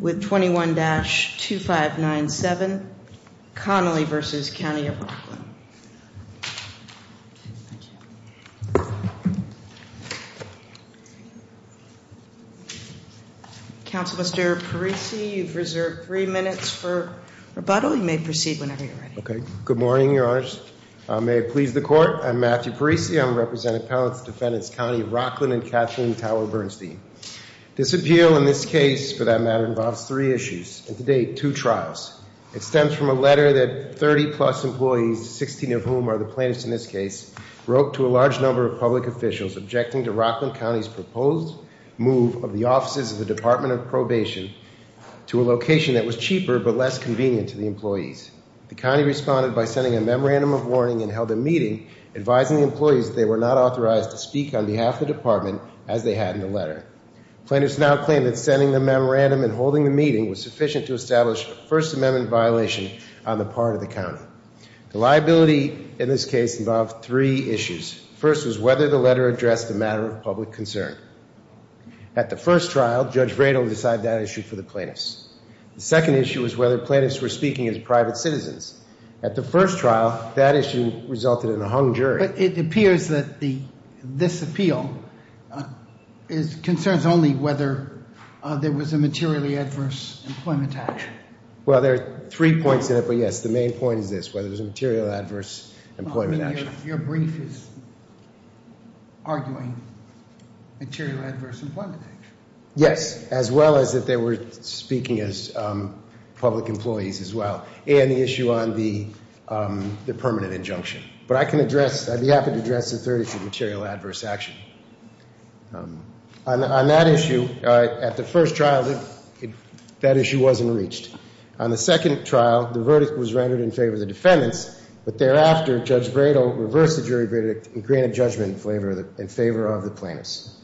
with 21-2597 Connolly v. County of Rockland. Counsel Mr. Parisi, you've reserved three minutes for rebuttal. You may proceed whenever you're ready. Okay. Good morning, Your Honors. May it please the Court. I'm Matthew Parisi. I'm a representative of the Defendants County of Rockland and Catherine Tower Bernstein. This appeal in this case, for that matter, involves three issues and to date two trials. It stems from a letter that 30-plus employees, 16 of whom are the plaintiffs in this case, wrote to a large number of public officials objecting to Rockland County's proposed move of the offices of the Department of Probation to a location that was cheaper but less convenient to the employees. The county responded by sending a memorandum of consent. Plaintiffs now claim that sending the memorandum and holding the meeting was sufficient to establish a First Amendment violation on the part of the county. The liability in this case involved three issues. The first was whether the letter addressed a matter of public concern. At the first trial, Judge Vredel decided that issue for the plaintiffs. The second issue was whether plaintiffs were speaking as private citizens. At the first trial, that issue resulted in a hung jury. But it appears that this appeal concerns only whether there was a materially adverse employment action. Well, there are three points in it but yes, the main point is this, whether there was a material adverse employment action. Your brief is arguing material adverse employment action. Yes, as well as if they were speaking as public employees as well. And the issue on the permanent injunction. But I can address, I'd be happy to address the third issue, material adverse action. On that issue, at the first trial, that issue wasn't reached. On the second trial, the verdict was rendered in favor of the defendants. But thereafter, Judge Vredel reversed the jury verdict and granted judgment in favor of the plaintiffs.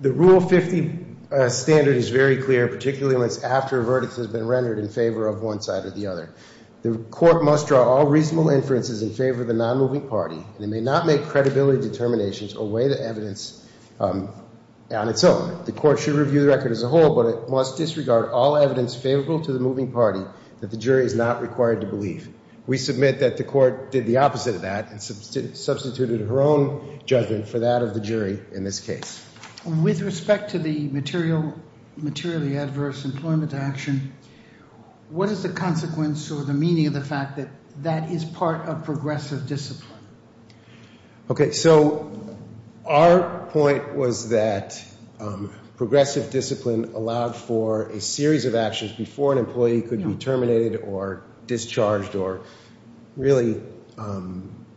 The Rule 50 standard is very clear, particularly when it's after a verdict has been rendered in favor of one side or the other. The court must draw all reasonable inferences in favor of the non-moving party and may not make credibility determinations or weigh the evidence on its own. The court should review the record as a whole, but it must disregard all evidence favorable to the moving party that the jury is not required to believe. We submit that the court did the opposite of that and substituted her own judgment for that of the jury in this case. With respect to the material materially adverse employment action, what is the consequence or the meaning of the fact that that is part of progressive discipline? Okay, so our point was that progressive discipline allowed for a series of actions before an employee could be terminated or discharged or really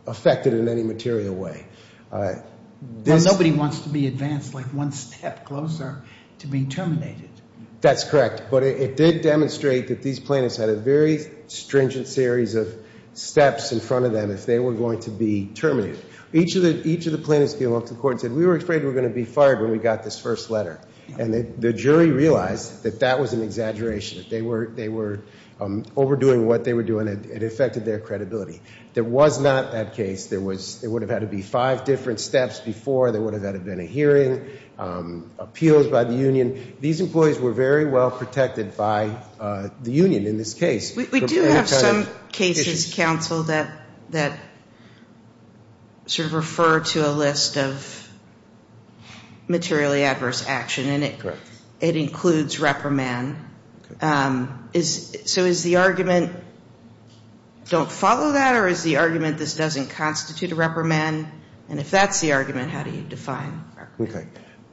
affected in any material way. Nobody wants to be advanced like one step closer to being terminated. That's correct, but it did demonstrate that these plaintiffs had a very stringent series of steps in front of them if they were going to be terminated. Each of the plaintiffs came up to the court and said, we were afraid we were going to be fired when we got this first letter. And the jury realized that that was an exaggeration. They were overdoing what they were doing. It affected their credibility. There was not that case. There would have had to be five different steps before. There would have had to have been a hearing, appeals by the union. These employees were very well protected by the union in this case. We do have some cases, counsel, that sort of refer to a list of materially adverse action, and it includes reprimand. So is the argument don't follow that or is the argument this doesn't constitute a Okay.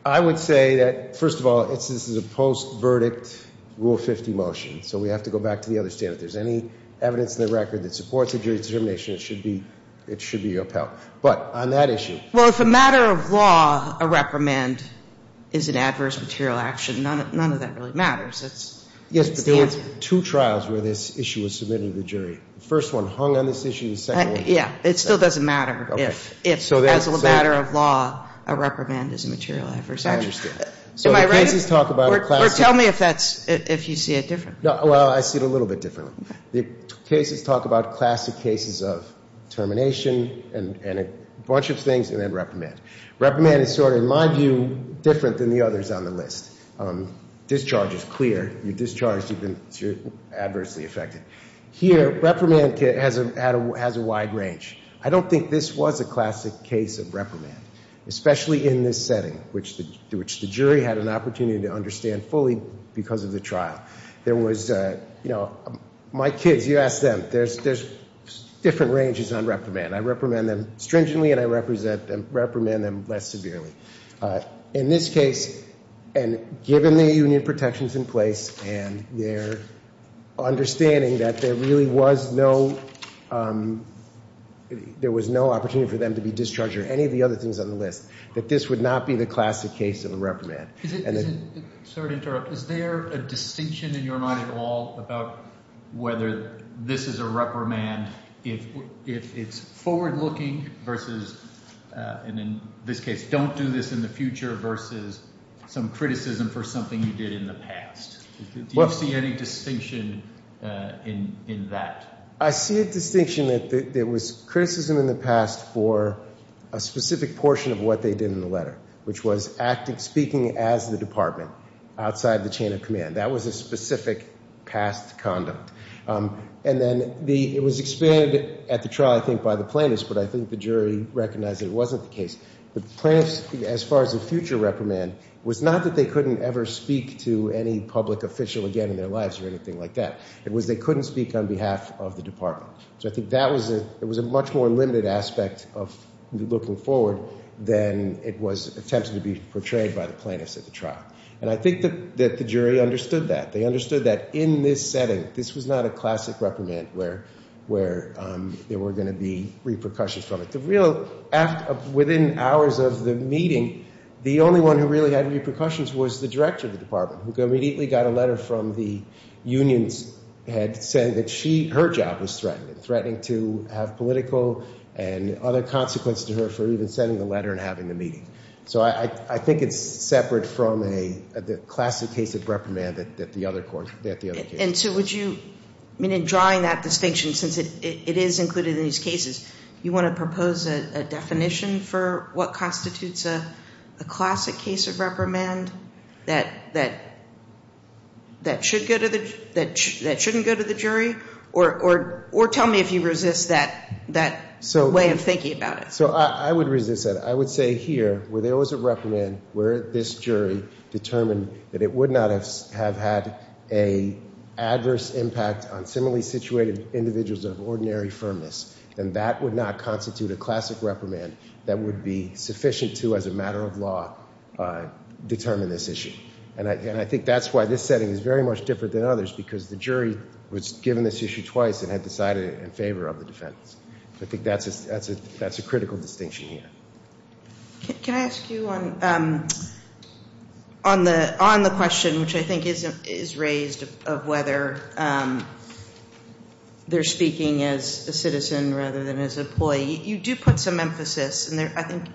I would say that, first of all, this is a post-verdict Rule 50 motion, so we have to go back to the other standard. If there's any evidence in the record that supports a jury's determination, it should be your appeal. But on that issue Well, if a matter of law, a reprimand is an adverse material action, none of that really matters. Yes, but there were two trials where this issue was submitted to the jury. The first one hung on this issue. Yeah. It still doesn't matter if, as a matter of law, a reprimand is a material adverse action. Am I right? Or tell me if you see it differently. Well, I see it a little bit differently. The cases talk about classic cases of termination and a bunch of things and then reprimand. Reprimand is sort of, in my view, different than the others on the list. Discharge is clear. You're discharged because you're adversely affected. Here, reprimand has a wide range. I don't think this was a classic case of reprimand, especially in this setting, which the jury had an opportunity to understand fully because of the trial. There was, you know, my kids, you ask them, there's different ranges on reprimand. I reprimand them stringently and I reprimand them less severely. In this case, and given the union protections in place and their understanding that there really was no, there was no opportunity for them to be discharged or any of the other things on the list, that this would not be the classic case of a reprimand. Sorry to interrupt. Is there a distinction in your mind at all about whether this is a reprimand if it's forward-looking versus, and in this case, don't do this in the future versus some criticism for something you did in the past? Do you see any distinction in that? I see a distinction that there was criticism in the past for a specific portion of what they did in the letter, which was acting, speaking as the department outside the chain of command. That was a specific past conduct. And then the, it was expanded at the trial, I think, by the plaintiffs, but I think the jury recognized that it wasn't the case. The plaintiffs, as far as the future reprimand, was not that they couldn't ever speak to any public official again in their lives or anything like that. It was they couldn't speak on behalf of the department. So I think that was a, it was a much more limited aspect of looking forward than it was attempted to be portrayed by the plaintiffs at the trial. And I think that the jury understood that. They understood that in this setting, this was not a classic reprimand where there were going to be repercussions from it. The real, within hours of the meeting, the only one who really had repercussions was the director of the department, who immediately got a letter from the unions head saying that she, her job was threatened, threatening to have political and other consequences to her for even sending the letter and having the meeting. So I think it's separate from a, the classic case of reprimand that the other court, that the other case. And so would you, I mean, in drawing that distinction, since it is included in these cases, you want to propose a definition for what constitutes a classic case of reprimand that, that, that should go to the, that shouldn't go to the jury? Or tell me if you resist that, that way of thinking about it. So I would resist that. I would say here, where there was a reprimand, where this jury determined that it would not have had a adverse impact on similarly situated individuals of ordinary firmness, then that would not constitute a classic reprimand that would be sufficient to, as a matter of law, determine this issue. And I, and I think that's why this setting is very much different than others, because the jury was given this issue twice and had decided in favor of the defense. So I think that's a, that's a, that's a critical distinction here. Can I ask you on, on the, on the question, which I think is raised, of whether they're speaking as a citizen rather than as an employee. You do put some emphasis, and I think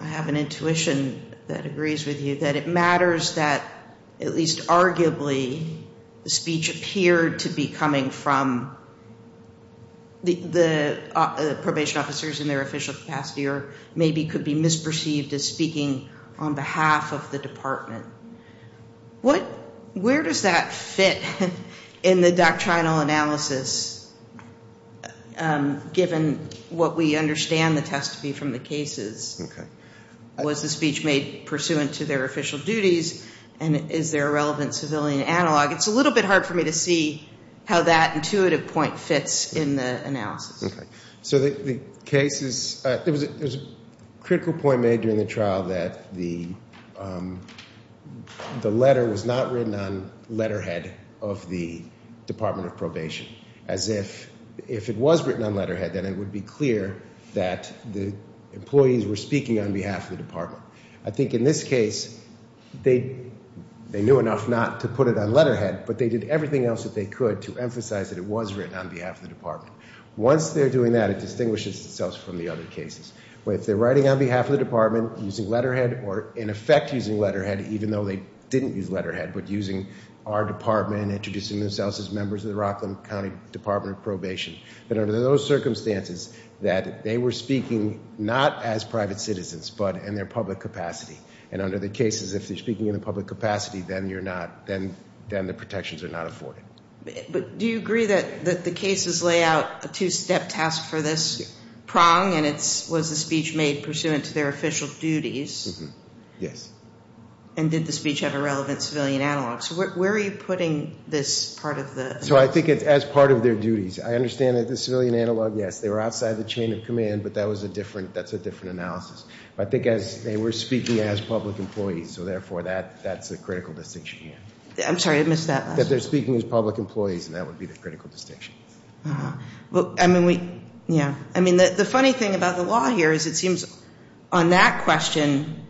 I have an intuition that agrees with you, that it matters that at least arguably the speech appeared to be coming from the, the probation officers in their official capacity, or maybe could be misperceived as speaking on behalf of the department. What, where does that fit in the doctrinal analysis, given what we understand the test to be from the cases? Was the speech made pursuant to their official duties, and is there relevant civilian analog? It's a little bit hard for me to see how that intuitive point fits in the analysis. Okay. So the case is, there was a critical point made during the trial that the, the letter was not written on letterhead of the Department of Probation, as if, if it was written on letterhead, then it would be clear that the employees were speaking on behalf of the department. I think in this case, they, they knew enough not to put it on letterhead, but they did everything else that they could to emphasize that it was written on behalf of the department. Once they're doing that, it distinguishes itself from the other cases, where if they're writing on behalf of the department, using letterhead, or in effect using letterhead, even though they didn't use letterhead, but using our department, introducing themselves as members of the Rockland County Department of Probation, that under those circumstances, that they were speaking not as private citizens, but in their public capacity. And under the cases, if they're speaking in a public capacity, then you're not, then, then the protections are not afforded. But do you agree that, that the cases lay out a two-step task for this prong, and it's, was the speech made pursuant to their official duties? Mm-hmm. Yes. And did the speech have a relevant civilian analog? So where, where are you putting this as part of the? So I think it's as part of their duties. I understand that the civilian analog, yes, they were outside the chain of command, but that was a different, that's a different analysis. But I think as they were speaking as public employees, so therefore, that, that's a critical distinction here. I'm sorry, I missed that last one. That they're speaking as public employees, and that would be the critical distinction. Uh-huh. Well, I mean, we, yeah. I mean, the, the funny thing about the law here is it seems on that question,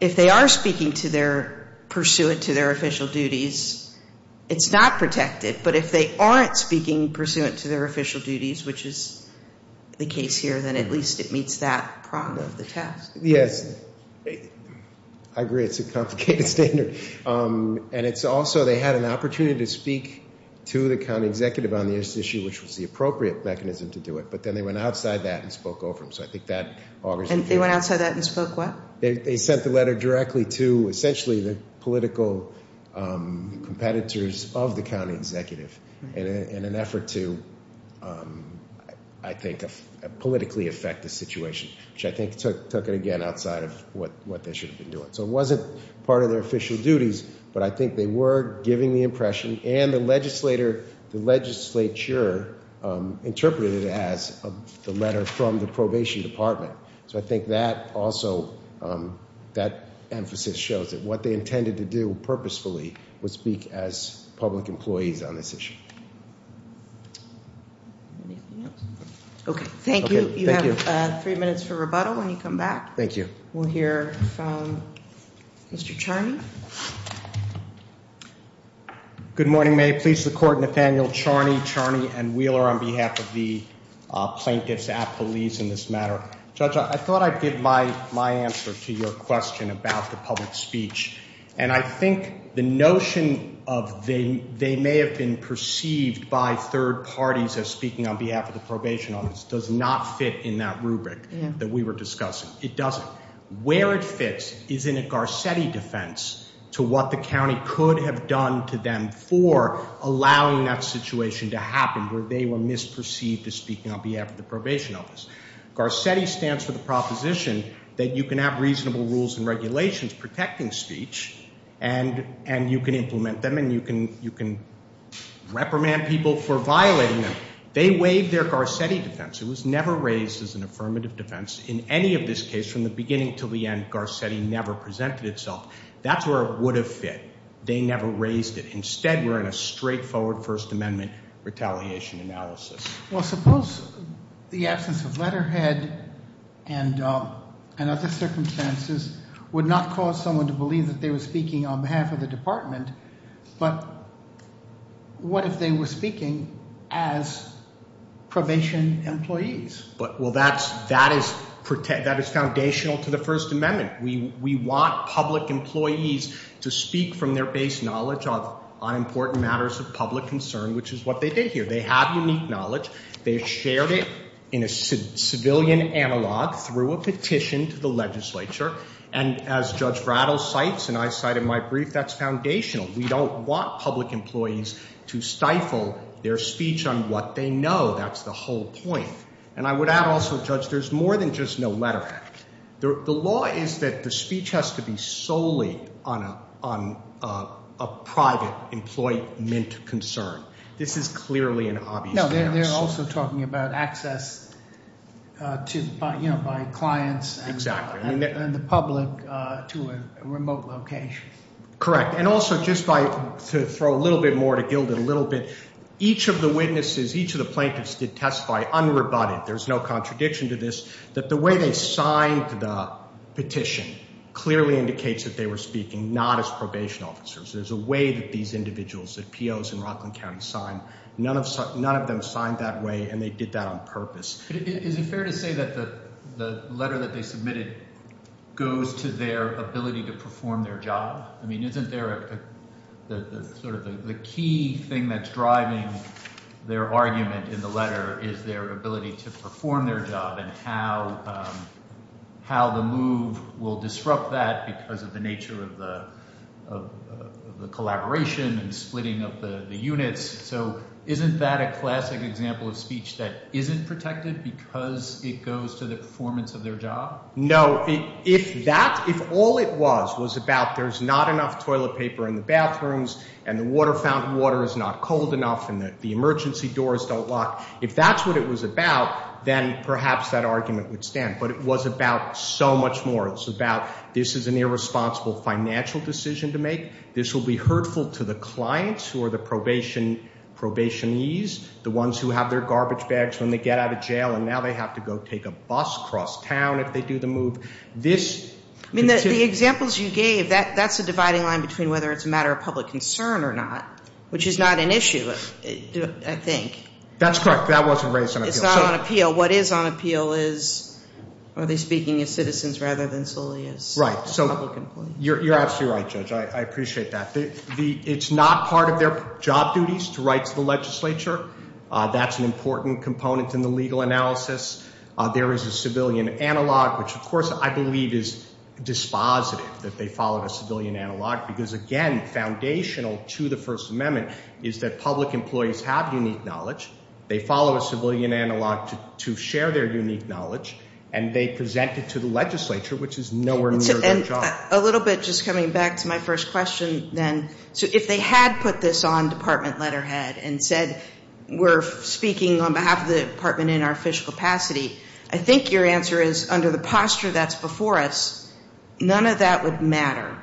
if they are speaking to their, pursuant to their official duties, it's not protected. But if they aren't speaking pursuant to their official duties, which is the case here, then at least it meets that prong of the task. Yes. I agree, it's a complicated standard. And it's also, they had an opportunity to speak to the county executive on this issue, which was the appropriate mechanism to do it. But then they went outside that and spoke over them. So I think that augurs in favor. And they went outside that and spoke what? They sent the letter directly to essentially the political competitors of the county executive in an effort to, I think, politically affect the situation, which I think took it again outside of what they should have been doing. So it wasn't part of their official duties, but I think they were giving the impression, and the legislator, the legislature interpreted it as, the letter from the probation department. So I think that also, that emphasis shows that what they intended to do purposefully was speak as public employees on this issue. Okay. Thank you. You have three minutes for rebuttal when you come back. Thank you. We'll hear from Mr. Charney. Good morning. May it please the court, Nathaniel Charney, Charney and Wheeler on behalf of the plaintiffs at police in this matter. Judge, I thought I'd give my answer to your question about the public speech. And I think the notion of they may have been perceived by third parties as speaking on behalf of the probation office does not fit in that rubric that we were discussing. It doesn't. Where it fits is in a Garcetti defense to what the county could have done to them for allowing that situation to happen where they were misperceived as speaking on behalf of the probation office. Garcetti stands for the proposition that you can have reasonable rules and regulations protecting speech, and you can implement them, and you can reprimand people for violating them. They waived their Garcetti defense. It was never raised as an affirmative defense in any of this case. From the beginning to the end, Garcetti never presented itself. That's where it would have fit. They never raised it. Instead, we're in a straightforward First Amendment retaliation analysis. Well, suppose the absence of letterhead and other circumstances would not cause someone to believe that they were speaking on behalf of the department. But what if they were speaking as probation employees? Well, that is foundational to the First Amendment. We want public employees to speak from their base knowledge on important matters of public concern, which is what they did here. They have unique knowledge. They shared it in a civilian analog through a legislature. And as Judge Brattle cites, and I cite in my brief, that's foundational. We don't want public employees to stifle their speech on what they know. That's the whole point. And I would add also, Judge, there's more than just no letterhead. The law is that the speech has to be solely on a private employment concern. This is clearly an obvious case. They're also talking about access by clients and the public to a remote location. Correct. And also, just to throw a little bit more, to gild it a little bit, each of the witnesses, each of the plaintiffs did testify unrebutted. There's no contradiction to this, that the way they signed the petition clearly indicates that they were speaking not as probation officers. There's a way that these individuals, that POs in Rockland County, sign. None of them signed that way, and they did that on purpose. Is it fair to say that the letter that they submitted goes to their ability to perform their job? The key thing that's driving their argument in the letter is their ability to perform their job and how the move will disrupt that because of the nature of the collaboration and splitting of the units. So isn't that a classic example of speech that isn't protected because it goes to the performance of their job? No. If all it was was about there's not enough toilet paper in the bathrooms and the water fountain water is not cold enough and the emergency doors don't lock, if that's what it was about, then perhaps that argument would stand. But it was about so much more. It's about this is an irresponsible financial decision to make. This will be hurtful to the clients who are the probationees, the ones who have their garbage bags when they get out of jail and now they have to go take a bus across town if they do the move. The examples you gave, that's a dividing line between whether it's a matter of public concern or not, which is not an issue, I think. That's correct. That wasn't raised on appeal. It's not on appeal. What is on appeal is, are they speaking as citizens rather than solely as public employees? You're absolutely right, Judge. I appreciate that. It's not part of their job duties to write to the legislature. That's an important component in the legal analysis. There is a civilian analog. Because again, foundational to the First Amendment is that public employees have unique knowledge. They follow a civilian analog to share their unique knowledge. And they present it to the legislature, which is nowhere near their job. A little bit just coming back to my first question then. So if they had put this on department letterhead and said we're speaking on behalf of the department in our official capacity, I think your answer is under the posture that's before us, none of that would matter.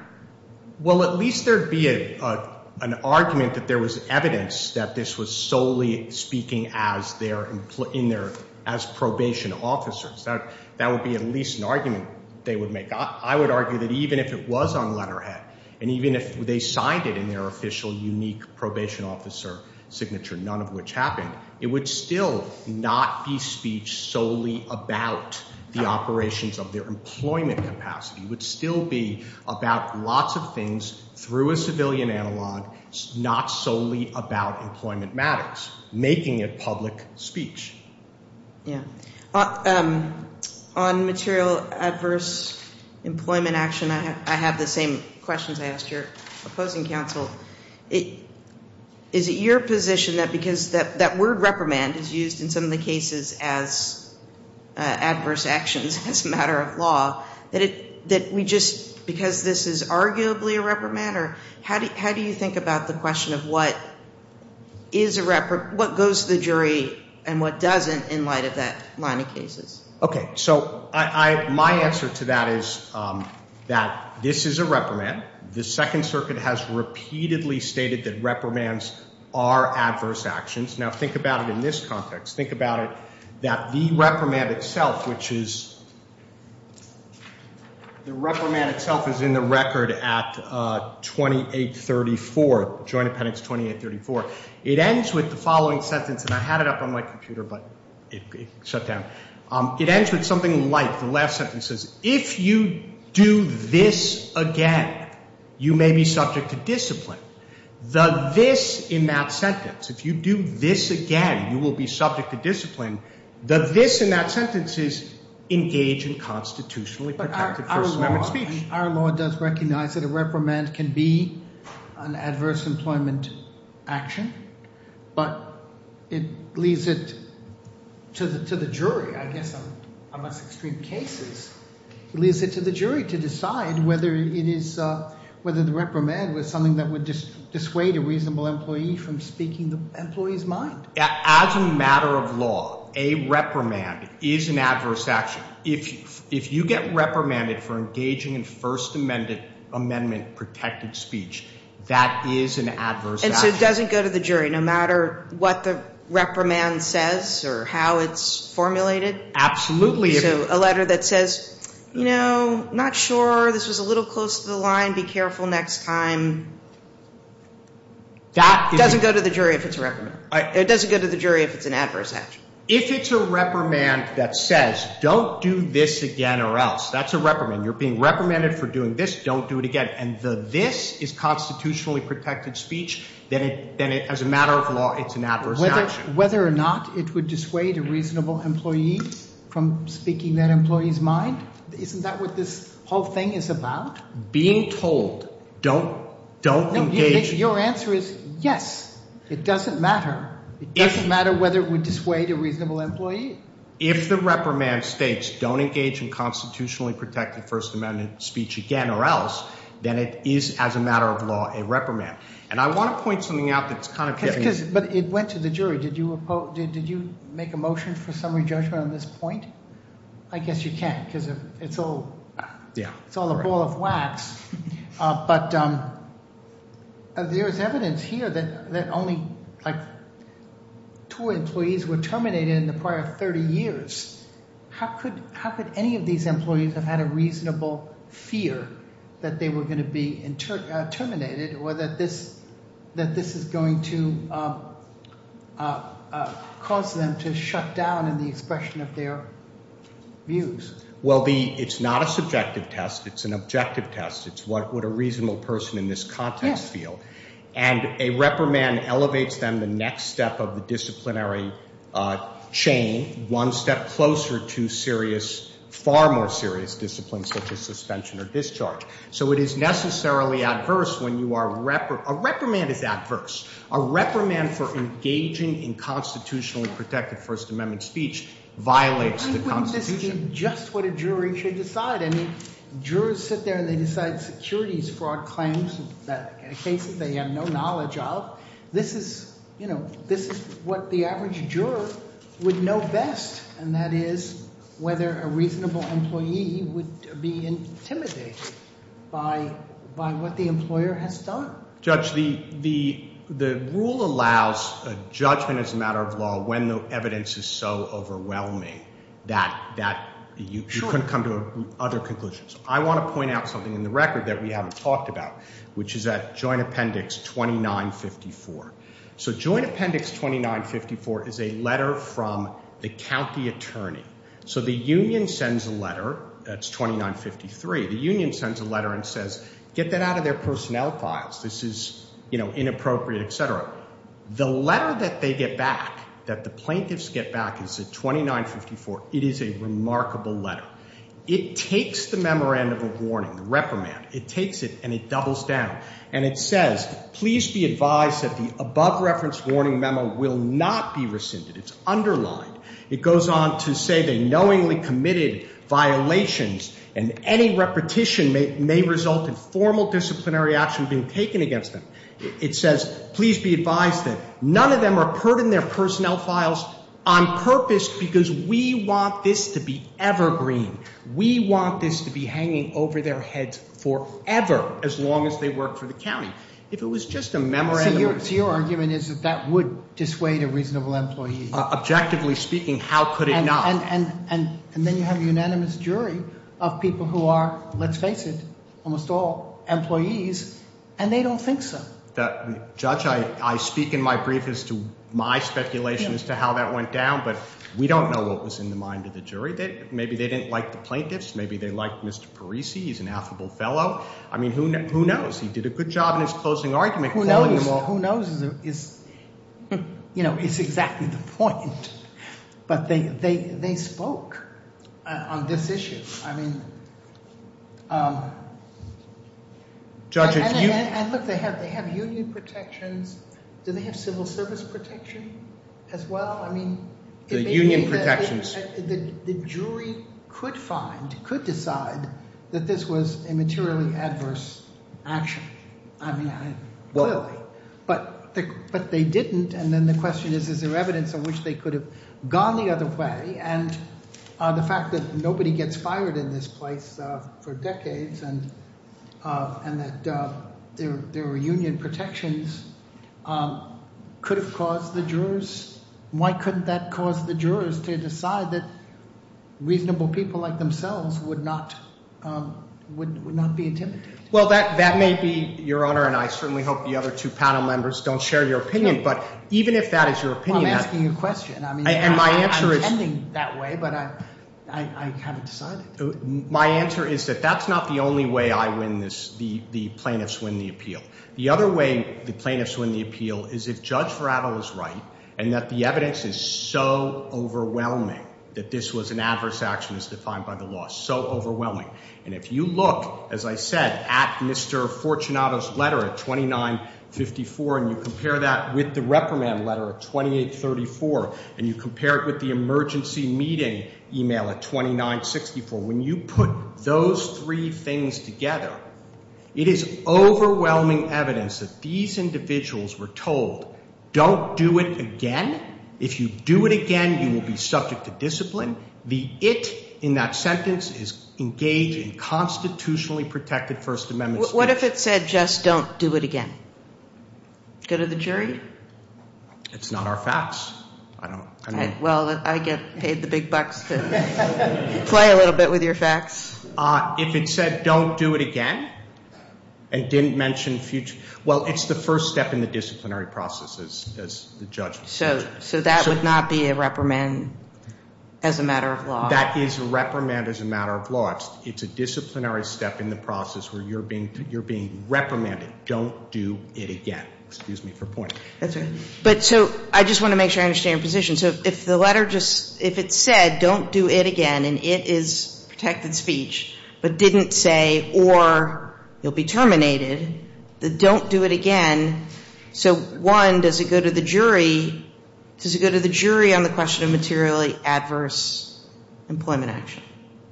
Well, at least there'd be an argument that there was evidence that this was solely speaking as probation officers. That would be at least an argument they would make. I would argue that even if it was on letterhead, and even if they signed it in their official unique capacity, it would still be about lots of things through a civilian analog, not solely about employment matters. Making it public speech. On material adverse employment action, I have the same questions I asked your opposing counsel. Is it your position that because that word reprimand is used in some of the cases as adverse actions as a matter of law, that we just, because this is arguably a reprimand, or how do you think about the question of what goes to the jury and what doesn't in light of that line of cases? Okay. So my answer to that is that this is a reprimand. The Second Circuit has repeatedly stated that reprimands are adverse actions. Now think about it in this context. Think about it that the reprimand itself, which is the reprimand itself is in the record at 2834, Joint Appendix 2834. It ends with the following sentence, and I had it up on my computer, but it shut down. It ends with something like the last sentence says, if you do this again, you may be subject to discipline. The this in that sentence, if you do this again, you will be subject to discipline. The this in that sentence is engage in adverse employment action, but it leads it to the jury. I guess on most extreme cases, it leads it to the jury to decide whether the reprimand was something that would dissuade a reasonable employee from speaking the employee's mind. As a matter of law, a reprimand is an adverse action. If you get reprimanded for engaging in First Amendment protected speech, that is an adverse action. And so it doesn't go to the jury no matter what the reprimand says or how it's formulated? Absolutely. So a letter that says, you know, not sure. This was a little close to the line. Be careful next time. That doesn't go to the jury if it's a reprimand. It doesn't go to the jury if it's an adverse action. If it's a reprimand that says, don't do this again or else. That's a reprimand. You're being reprimanded for doing this. Don't do it again. And the this is constitutionally protected speech, then as a matter of law, it's an adverse action. Whether or not it would dissuade a reasonable employee from speaking that employee's mind? Isn't that what this whole thing is about? Being told don't, don't engage. Your answer is yes. It doesn't matter. It doesn't matter whether it would dissuade a reasonable employee. If the reprimand states don't engage in constitutionally protected First Amendment speech again or else, then it is as a matter of law a reprimand. And I want to point something out that's kind of. But it went to the jury. Did you make a motion for summary judgment on this point? I guess you can't because it's all a ball of wax. But there is evidence here that only two employees were terminated in the prior 30 years. How could any of these employees have had a reasonable fear that they were going to be caused them to shut down in the expression of their views? Well, it's not a subjective test. It's an objective test. It's what a reasonable person in this context feel. And a reprimand elevates them the next step of the disciplinary chain, one step closer to serious, far more serious disciplines such as suspension or discharge. So it is necessarily adverse when you are. A reprimand is adverse. A reprimand for engaging in constitutionally protected First Amendment speech violates the Constitution. I mean, wouldn't this be just what a jury should decide? I mean, jurors sit there and they decide securities fraud claims that in cases they have no knowledge of. This is, you know, this is what the average juror would know best, and that is whether a reasonable employee would be intimidated by what the employer has done. Judge, the rule allows judgment as a matter of law when the evidence is so overwhelming that you can come to other conclusions. I want to point out something in the record that we haven't talked about, which is at Joint Appendix 2954. So Joint Appendix 2954 is a letter from the county attorney. So the union sends a letter. That's 2953. The union sends a letter and says, get that out of their personnel files. This is inappropriate, etc. The letter that they get back, that the plaintiffs get back, is at 2954. It is a remarkable letter. Now, it takes the memorandum of warning, the reprimand. It takes it and it doubles down. And it says, please be advised that the above-reference warning memo will not be rescinded. It's underlined. It goes on to say they knowingly committed violations and any repetition may result in formal disciplinary action being taken against them. It says, please be advised that none of them are putting their personnel files on purpose because we want this to be evergreen. We want this to be hanging over their heads forever, as long as they work for the county. If it was just a memorandum of warning. So your argument is that that would dissuade a reasonable employee. Objectively speaking, how could it not? And then you have a unanimous jury of people who are, let's face it, almost all employees, and they don't think so. Judge, I speak in my brief as to my speculation as to how that went down, but we don't know what was in the mind of the jury. Maybe they didn't like the plaintiffs. Maybe they liked Mr. Parisi. He's an affable fellow. I mean, who knows? He did a good job in his closing argument. Who knows? Who knows is, you know, is exactly the point. But they spoke on this issue. And look, they have union protections. Do they have civil service protection as well? The union protections. The jury could find, could decide that this was a materially adverse action. I mean, clearly. But they didn't, and then the question is, is there evidence on which they could have gone the other way, and the fact that nobody gets fired in this place for decades, and that their union protections could have caused the jurors, why couldn't that cause the jurors to decide that reasonable people like themselves would not be intimidated? Well, that may be, Your Honor, and I certainly hope the other two panel members don't share your opinion, but even if that is your opinion. Well, I'm asking you a question. I'm intending that way, but I haven't decided. My answer is that that's not the only way I win this, the plaintiffs win the appeal. The other way the plaintiffs win the appeal is if Judge Farrell is right, and that the evidence is so overwhelming that this was an adverse action as defined by the law. So overwhelming. And if you look, as I said, at Mr. Fortunato's letter at 2954, and you compare that with the reprimand letter at 2834, and you compare it with the emergency meeting email at 2964, when you put those three things together, it is overwhelming evidence that these individuals were told, don't do it again. If you do it again, you will be subject to discipline. The it in that sentence is engage in constitutionally protected First Amendment speech. What if it said just don't do it again? Go to the jury? It's not our facts. Well, I get paid the big bucks to play a little bit with your facts. If it said don't do it again and didn't mention future, well, it's the first step in the disciplinary process as the judge. So that would not be a reprimand as a matter of law? That is a reprimand as a matter of law. It's a disciplinary step in the process where you're being reprimanded. Don't do it again. Excuse me for pointing. That's all right. But so I just want to make sure I understand your position. So if the letter just – if it said don't do it again and it is protected speech but didn't say or you'll be terminated, the don't do it again, so one, does it go to the jury? Does it go to the jury on the question of materially adverse employment action?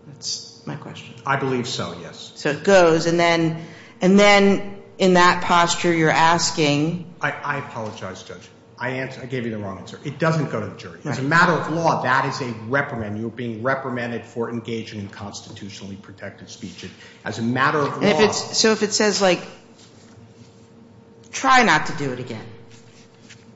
That's my question. I believe so, yes. So it goes, and then in that posture you're asking – I apologize, Judge. I gave you the wrong answer. It doesn't go to the jury. As a matter of law, that is a reprimand. You're being reprimanded for engaging in constitutionally protected speech. As a matter of law – So if it says like try not to do it again,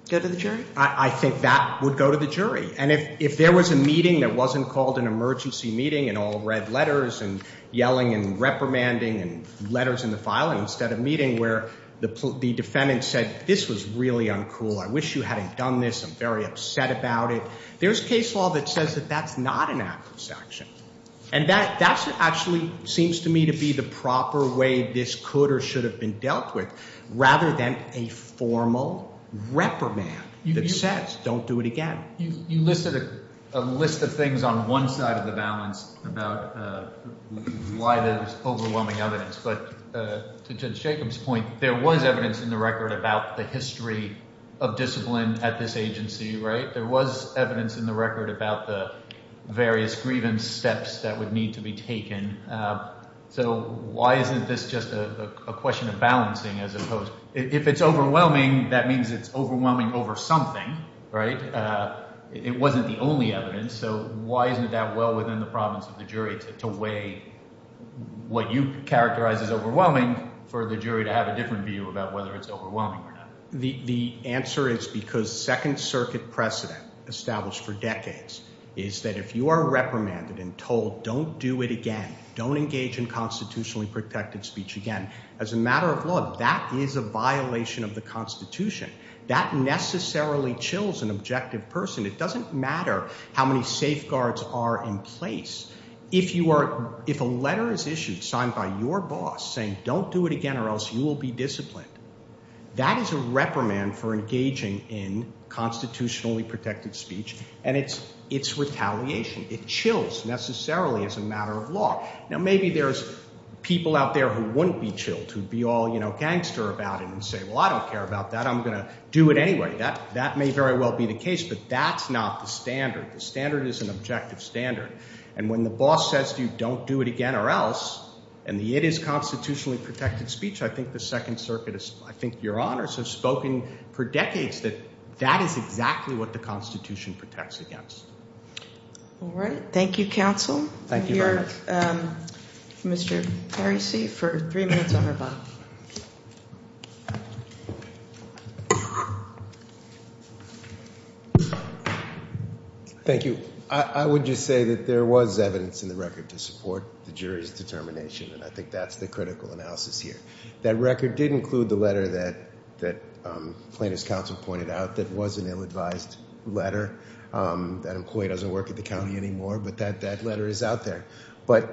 go to the jury? I think that would go to the jury. And if there was a meeting that wasn't called an emergency meeting and all red letters and yelling and reprimanding and letters in the filing instead of meeting where the defendant said this was really uncool. I wish you hadn't done this. I'm very upset about it. There's case law that says that that's not an adverse action, and that actually seems to me to be the proper way this could or should have been dealt with rather than a formal reprimand that says don't do it again. You listed a list of things on one side of the balance about why there's overwhelming evidence. But to Judge Jacobs' point, there was evidence in the record about the history of discipline at this agency. There was evidence in the record about the various grievance steps that would need to be taken. So why isn't this just a question of balancing as opposed – if it's overwhelming, that means it's overwhelming over something, right? It wasn't the only evidence. So why isn't that well within the province of the jury to weigh what you characterize as overwhelming for the jury to have a different view about whether it's overwhelming or not? The answer is because Second Circuit precedent established for decades is that if you are reprimanded and told don't do it again, don't engage in constitutionally protected speech again, as a matter of law, that is a violation of the Constitution. That necessarily chills an objective person. It doesn't matter how many safeguards are in place. If you are – if a letter is issued signed by your boss saying don't do it again or else you will be disciplined, that is a reprimand for engaging in constitutionally protected speech, and it's retaliation. It chills necessarily as a matter of law. Now, maybe there's people out there who wouldn't be chilled, who would be all gangster about it and say, well, I don't care about that. I'm going to do it anyway. That may very well be the case, but that's not the standard. The standard is an objective standard, and when the boss says to you don't do it again or else and it is constitutionally protected speech, I think the Second Circuit is – I think your honors have spoken for decades that that is exactly what the Constitution protects against. All right. Thank you, counsel. Thank you very much. We'll hear Mr. Parisi for three minutes on her bill. Thank you. I would just say that there was evidence in the record to support the jury's determination, and I think that's the critical analysis here. That record did include the letter that plaintiff's counsel pointed out that was an ill-advised letter. That employee doesn't work at the county anymore, but that letter is out there. But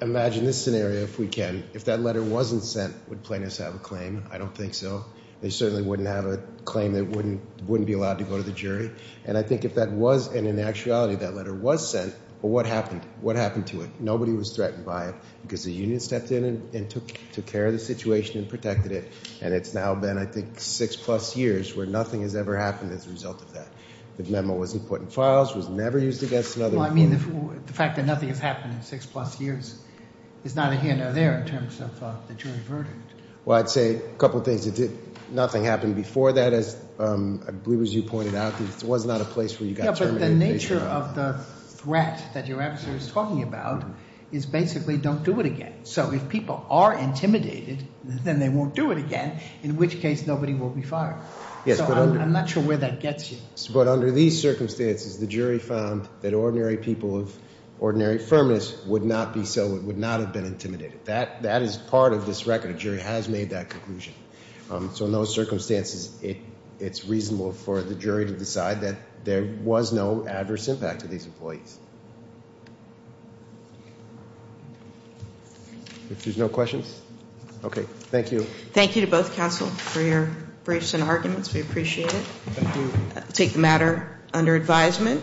imagine this scenario if we can. If that letter wasn't sent, would plaintiffs have a claim? I don't think so. They certainly wouldn't have a claim. They wouldn't be allowed to go to the jury, and I think if that was – and in actuality that letter was sent, well, what happened? What happened to it? Nobody was threatened by it because the union stepped in and took care of the situation and protected it, and it's now been, I think, six-plus years where nothing has ever happened as a result of that. The memo wasn't put in files, was never used against another. Well, I mean the fact that nothing has happened in six-plus years is neither here nor there in terms of the jury verdict. Well, I'd say a couple of things. Nothing happened before that, as I believe as you pointed out. It was not a place where you got terminated. Yeah, but the nature of the threat that your adversary is talking about is basically don't do it again. So if people are intimidated, then they won't do it again, in which case nobody will be fired. So I'm not sure where that gets you. But under these circumstances, the jury found that ordinary people of ordinary firmness would not be so – would not have been intimidated. That is part of this record. A jury has made that conclusion. So in those circumstances, it's reasonable for the jury to decide that there was no adverse impact to these employees. If there's no questions? Okay. Thank you. Thank you to both counsel for your briefs and arguments. We appreciate it. Thank you. Take the matter under advisement.